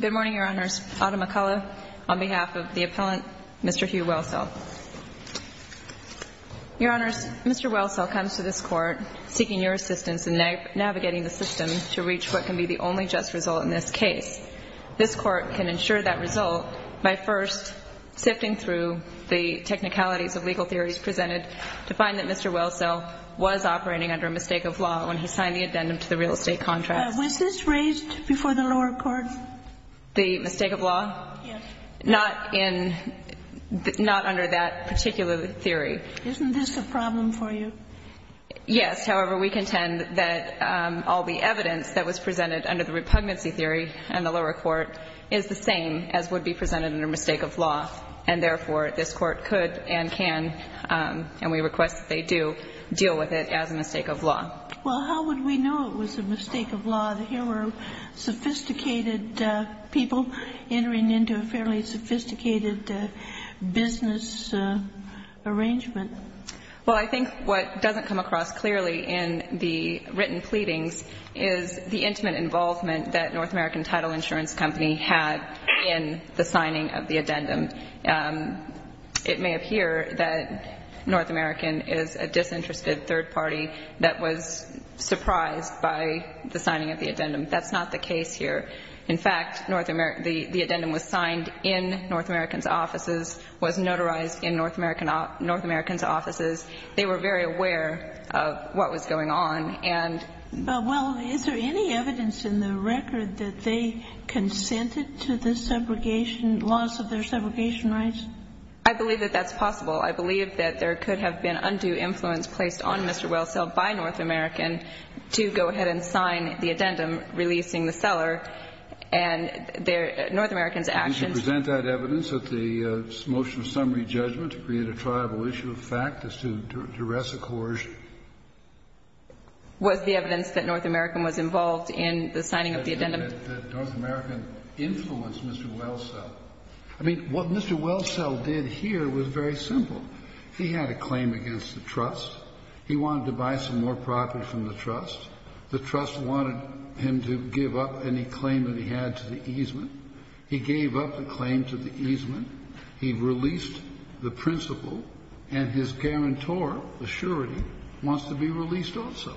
Good morning, Your Honors. Autumn McCullough on behalf of the appellant, Mr. Hugh Welcel. Your Honors, Mr. Welcel comes to this Court seeking your assistance in navigating the system to reach what can be the only just result in this case. This Court can ensure that result by first sifting through the technicalities of legal theories presented to find that Mr. Welcel was operating under a mistake of law when he signed the addendum to the real estate contract. Was this raised before the lower court? The mistake of law? Yes. Not under that particular theory. Isn't this a problem for you? Yes. However, we contend that all the evidence that was presented under the repugnancy theory in the lower court is the same as would be presented under mistake of law. And therefore, this Court could and can, and we request that they do, deal with it as a mistake of law. Well, how would we know it was a mistake of law? Here were sophisticated people entering into a fairly sophisticated business arrangement. Well, I think what doesn't come across clearly in the written pleadings is the intimate involvement that North American Title Insurance Company had in the signing of the addendum. It may appear that North American is a disinterested third party that was surprised by the signing of the addendum. That's not the case here. In fact, the addendum was signed in North American's offices, was notarized in North American's offices. They were very aware of what was going on. Well, is there any evidence in the record that they consented to the loss of their segregation rights? I believe that that's possible. I believe that there could have been undue influence placed on Mr. Wells, held by North American, to go ahead and sign the addendum releasing the seller. And North American's actions — Did you present that evidence at the motion of summary judgment to create a triable issue of fact as to duress a coercion? Was the evidence that North American was involved in the signing of the addendum? That North American influenced Mr. Wellsell. I mean, what Mr. Wellsell did here was very simple. He had a claim against the trust. He wanted to buy some more property from the trust. The trust wanted him to give up any claim that he had to the easement. He gave up the claim to the easement. He released the principal, and his guarantor, the surety, wants to be released also.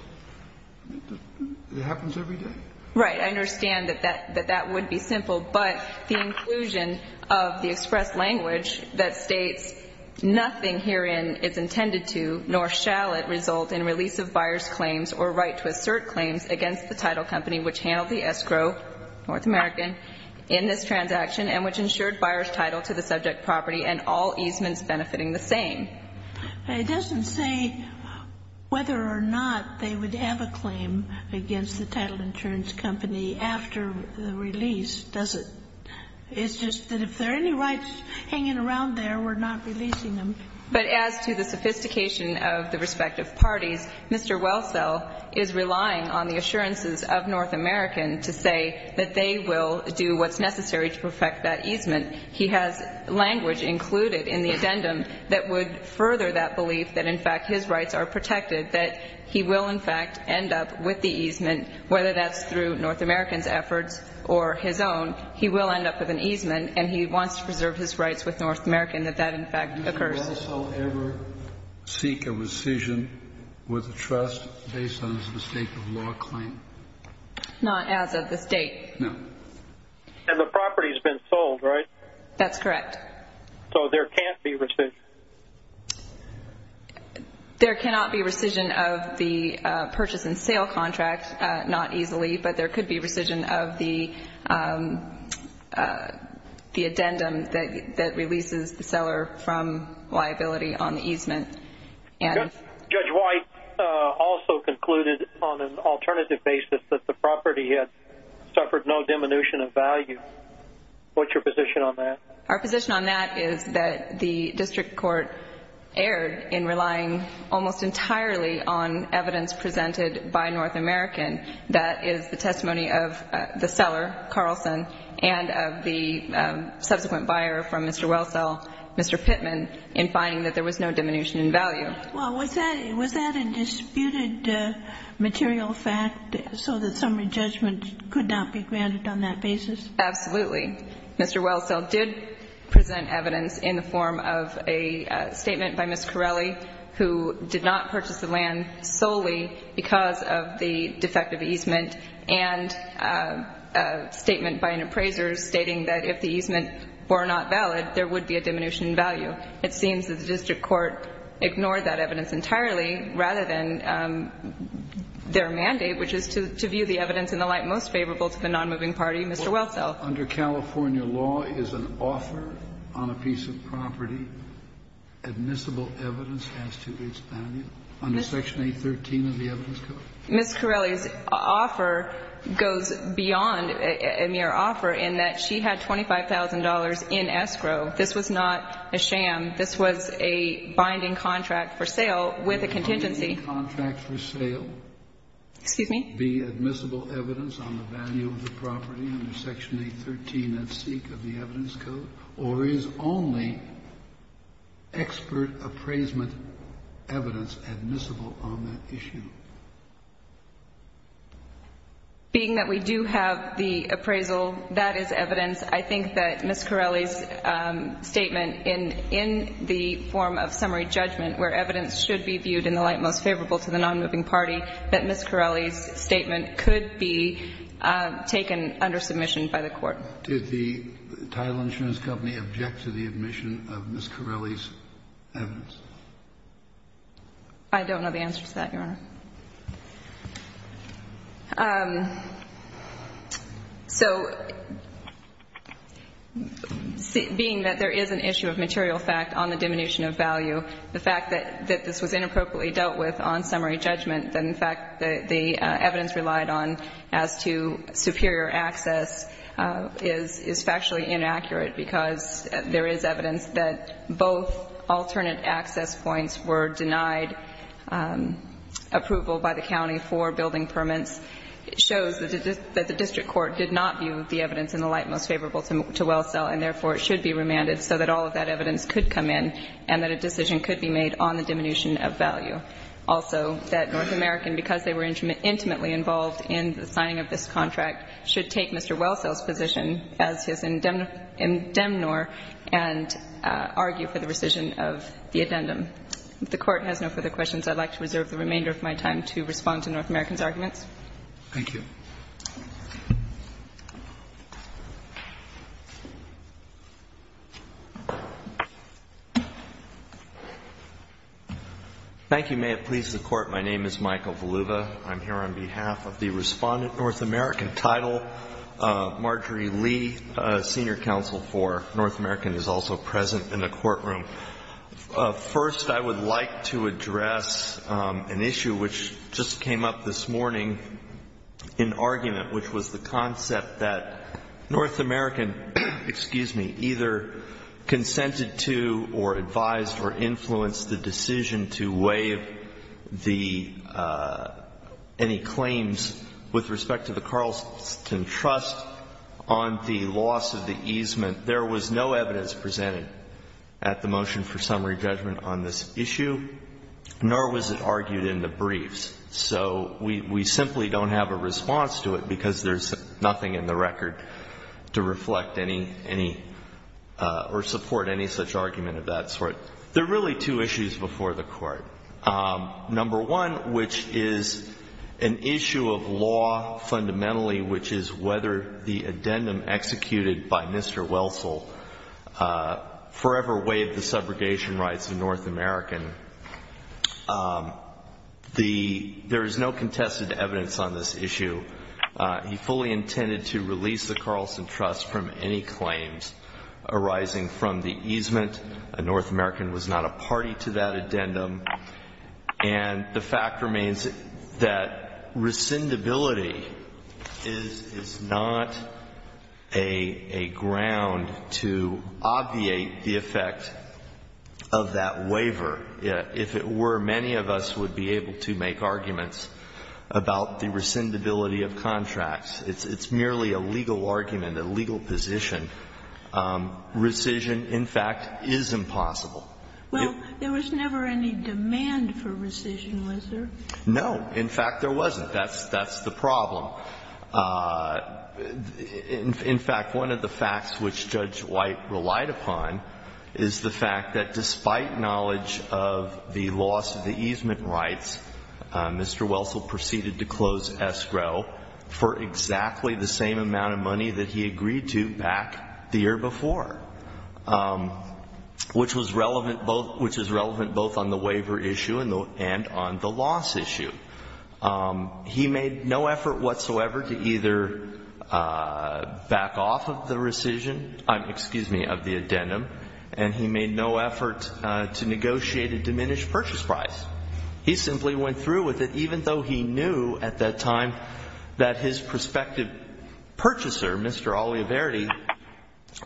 It happens every day. Right. I understand that that would be simple. But the inclusion of the express language that states, nothing herein is intended to nor shall it result in release of buyer's claims or right to assert claims against the title company, which handled the escrow, North American, in this transaction, and which ensured buyer's title to the subject property and all easements benefiting the same. It doesn't say whether or not they would have a claim against the title insurance company after the release, does it? It's just that if there are any rights hanging around there, we're not releasing them. But as to the sophistication of the respective parties, Mr. Wellsell is relying on the assurances of North American to say that they will do what's necessary to perfect that easement. He has language included in the addendum that would further that belief that, in fact, his rights are protected, that he will, in fact, end up with the easement, whether that's through North American's efforts or his own, he will end up with an easement, and he wants to preserve his rights with North American that that, in fact, occurs. Did Mr. Wellsell ever seek a rescission with a trust based on his mistake of law claim? Not as of this date. No. And the property's been sold, right? That's correct. So there can't be rescission. There cannot be rescission of the purchase and sale contract, not easily, but there could be rescission of the addendum that releases the seller from liability on the easement. Judge White also concluded on an alternative basis that the property had suffered no diminution of value. What's your position on that? Our position on that is that the district court erred in relying almost entirely on evidence presented by North American. That is the testimony of the seller, Carlson, and of the subsequent buyer from Mr. Wellsell, Mr. Pittman, in finding that there was no diminution in value. Well, was that a disputed material fact so that summary judgment could not be granted on that basis? Absolutely. Mr. Wellsell did present evidence in the form of a statement by Ms. Corelli, who did not purchase the land solely because of the defective easement, and a statement by an appraiser stating that if the easement were not valid, there would be a diminution in value. It seems that the district court ignored that evidence entirely rather than their mandate, which is to view the evidence in the light most favorable to the nonmoving party, Mr. Wellsell. Under California law, is an offer on a piece of property admissible evidence as to its value? Under Section 813 of the Evidence Code? Ms. Corelli's offer goes beyond a mere offer in that she had $25,000 in escrow. This was not a sham. This was a binding contract for sale with a contingency. A binding contract for sale? Excuse me? Be admissible evidence on the value of the property under Section 813 of the Evidence Code? Or is only expert appraisement evidence admissible on that issue? Being that we do have the appraisal, that is evidence. I think that Ms. Corelli's statement in the form of summary judgment where evidence should be viewed in the light most favorable to the nonmoving party, that Ms. Corelli's statement could be taken under submission by the Court. Did the Tylench Men's Company object to the admission of Ms. Corelli's evidence? I don't know the answer to that, Your Honor. So being that there is an issue of material fact on the diminution of value, the fact that this was inappropriately dealt with on summary judgment, that in fact the evidence relied on as to superior access is factually inaccurate because there is evidence that both alternate access points were denied approval by the county for building permits. It shows that the district court did not view the evidence in the light most favorable to Wellsell, and therefore, it should be remanded so that all of that evidence could come in and that a decision could be made on the diminution of value. Also, that North American, because they were intimately involved in the signing of this contract, should take Mr. Wellsell's position as his indemnor and argue for the rescission of the addendum. If the Court has no further questions, I would like to reserve the remainder of my time to respond to North American's arguments. Thank you. Thank you. May it please the Court. My name is Michael Valuva. I'm here on behalf of the respondent North American Title, Marjorie Lee, Senior Counsel for North American, who is also present in the courtroom. First, I would like to address an issue which just came up this morning in the argument, which was the concept that North American, excuse me, either consented to or advised or influenced the decision to waive the any claims with respect to the Carlson Trust on the loss of the easement. There was no evidence presented at the motion for summary judgment on this issue, nor was it argued in the briefs. So we simply don't have a response to it because there's nothing in the record to reflect any or support any such argument of that sort. There are really two issues before the Court. Number one, which is an issue of law fundamentally, which is whether the addendum executed by Mr. Wellsell forever waived the subrogation rights of North American. There is no contested evidence on this issue. He fully intended to release the Carlson Trust from any claims arising from the easement. A North American was not a party to that addendum. And the fact remains that rescindability is not a ground to obviate the effect of that If it were, many of us would be able to make arguments about the rescindability of contracts. It's merely a legal argument, a legal position. Rescission, in fact, is impossible. Well, there was never any demand for rescission, was there? No. In fact, there wasn't. That's the problem. In fact, one of the facts which Judge White relied upon is the fact that despite knowledge of the loss of the easement rights, Mr. Wellsell proceeded to close escrow for exactly the same amount of money that he agreed to back the year before, which was relevant both on the waiver issue and on the loss issue. He made no effort whatsoever to either back off of the rescission, excuse me, of the to negotiate a diminished purchase price. He simply went through with it, even though he knew at that time that his prospective purchaser, Mr. Oliverity,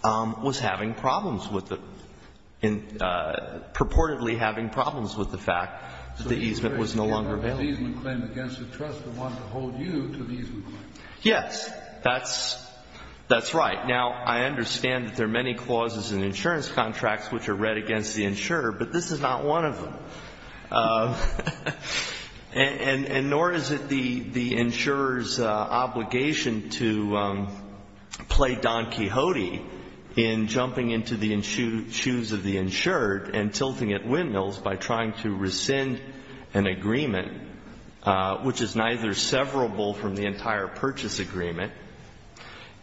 was having problems with the, purportedly having problems with the fact that the easement was no longer available. So the easement claim against the trust would want to hold you to the easement claim. Yes. That's right. Now, I understand that there are many clauses in insurance contracts which are read against the insurer, but this is not one of them. And nor is it the insurer's obligation to play Don Quixote in jumping into the shoes of the insured and tilting at windmills by trying to rescind an agreement, which is neither severable from the entire purchase agreement.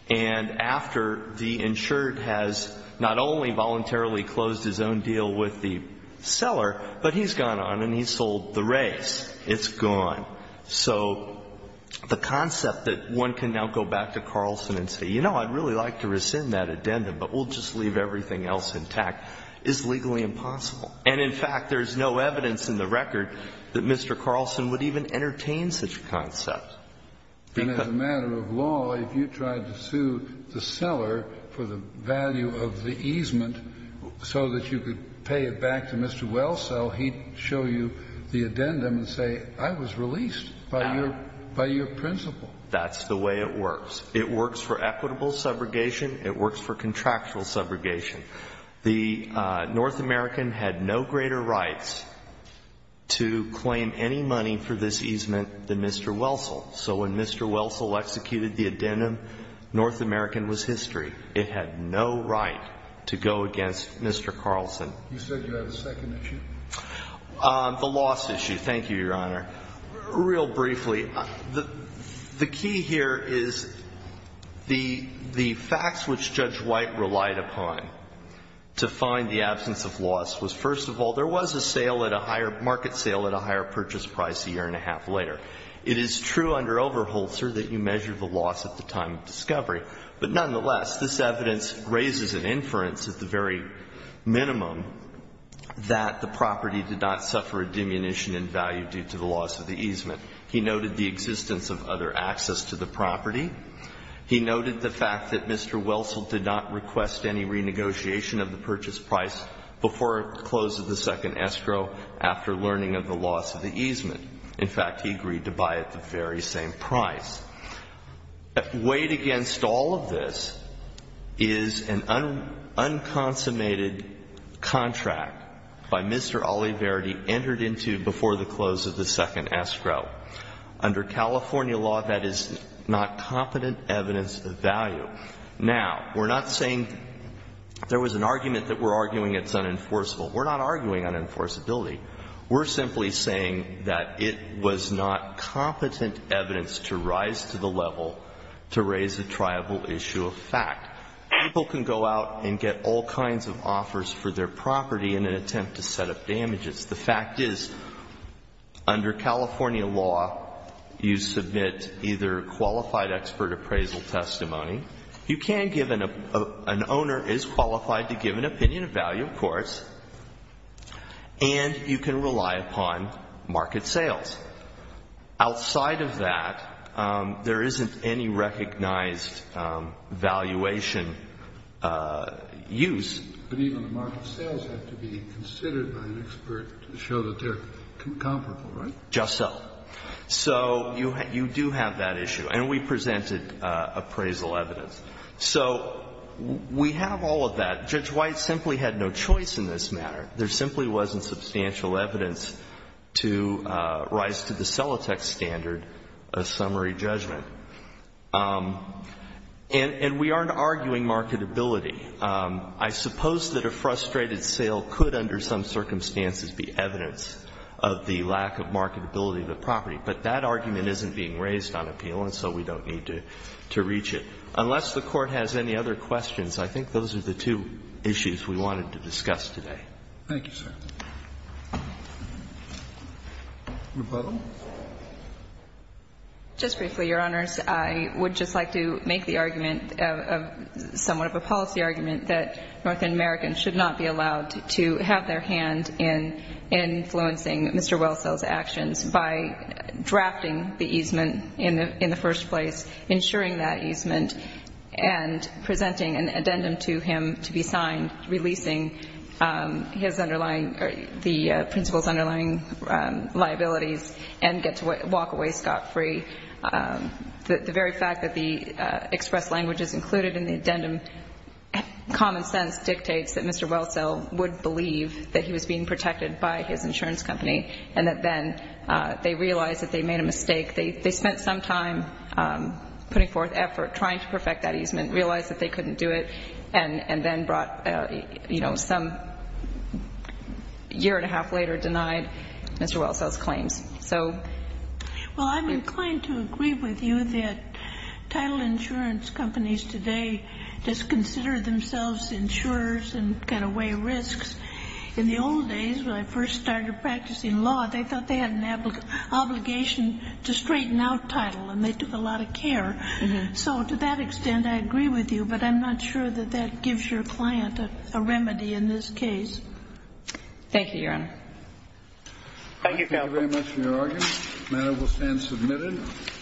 And after the insured has not only voluntarily closed his own deal with the seller, but he's gone on and he's sold the race. It's gone. So the concept that one can now go back to Carlson and say, you know, I'd really like to rescind that addendum, but we'll just leave everything else intact, is legally impossible. And, in fact, there's no evidence in the record that Mr. Carlson would even entertain such a concept. And as a matter of law, if you tried to sue the seller for the value of the easement so that you could pay it back to Mr. Wellsell, he'd show you the addendum and say, I was released by your principle. That's the way it works. It works for equitable subrogation. It works for contractual subrogation. The North American had no greater rights to claim any money for this easement than Mr. Wellsell. So when Mr. Wellsell executed the addendum, North American was history. It had no right to go against Mr. Carlson. You said you had a second issue? The loss issue. Thank you, Your Honor. Real briefly. The key here is the facts which Judge White relied upon to find the absence of loss was, first of all, there was a sale at a higher market sale at a higher purchase price a year and a half later. It is true under Overholzer that you measure the loss at the time of discovery. But nonetheless, this evidence raises an inference at the very minimum that the property did not suffer a diminution in value due to the loss of the easement. He noted the existence of other access to the property. He noted the fact that Mr. Wellsell did not request any renegotiation of the purchase price before the close of the second escrow after learning of the loss of the easement. In fact, he agreed to buy at the very same price. Weighed against all of this is an unconsummated contract by Mr. Oliverdi entered into before the close of the second escrow. Under California law, that is not competent evidence of value. Now, we're not saying there was an argument that we're arguing it's unenforceable. We're not arguing unenforceability. We're simply saying that it was not competent evidence to rise to the level to raise a triable issue of fact. People can go out and get all kinds of offers for their property in an attempt to set up damages. The fact is, under California law, you submit either qualified expert appraisal testimony. You can give an — an owner is qualified to give an opinion of value, of course. And you can rely upon market sales. Outside of that, there isn't any recognized valuation use. But even the market sales have to be considered by an expert to show that they're comparable, right? Just so. So you do have that issue. And we presented appraisal evidence. So we have all of that. Judge White simply had no choice in this matter. There simply wasn't substantial evidence to rise to the Celotex standard of summary judgment. And we aren't arguing marketability. I suppose that a frustrated sale could, under some circumstances, be evidence of the lack of marketability of the property. But that argument isn't being raised on appeal, and so we don't need to reach it. Unless the Court has any other questions, I think those are the two issues we wanted to discuss today. Thank you, sir. Rebuttal. Just briefly, Your Honors. I would just like to make the argument of — somewhat of a policy argument that North Americans should not be allowed to have their hand in influencing Mr. Wellsell's actions by drafting the easement in the first place, ensuring that easement, and presenting an addendum to him to be signed, releasing his underlying — the principal's underlying liabilities, and get to walk away scot-free. The very fact that the express language is included in the addendum, common sense dictates that Mr. Wellsell would believe that he was being protected by his insurance company, and that then they realized that they made a mistake. They spent some time putting forth effort, trying to perfect that easement, realized that they couldn't do it, and then brought — you know, some year and a half later denied Mr. Wellsell's claims. So — Well, I'm inclined to agree with you that title insurance companies today just consider themselves insurers and cut away risks. In the old days, when I first started practicing law, they thought they had an obligation to straighten out title, and they took a lot of care. So to that extent, I agree with you, but I'm not sure that that gives your client a remedy in this case. Thank you, Your Honor. Thank you, counsel. Thank you very much for your argument. The matter will stand submitted.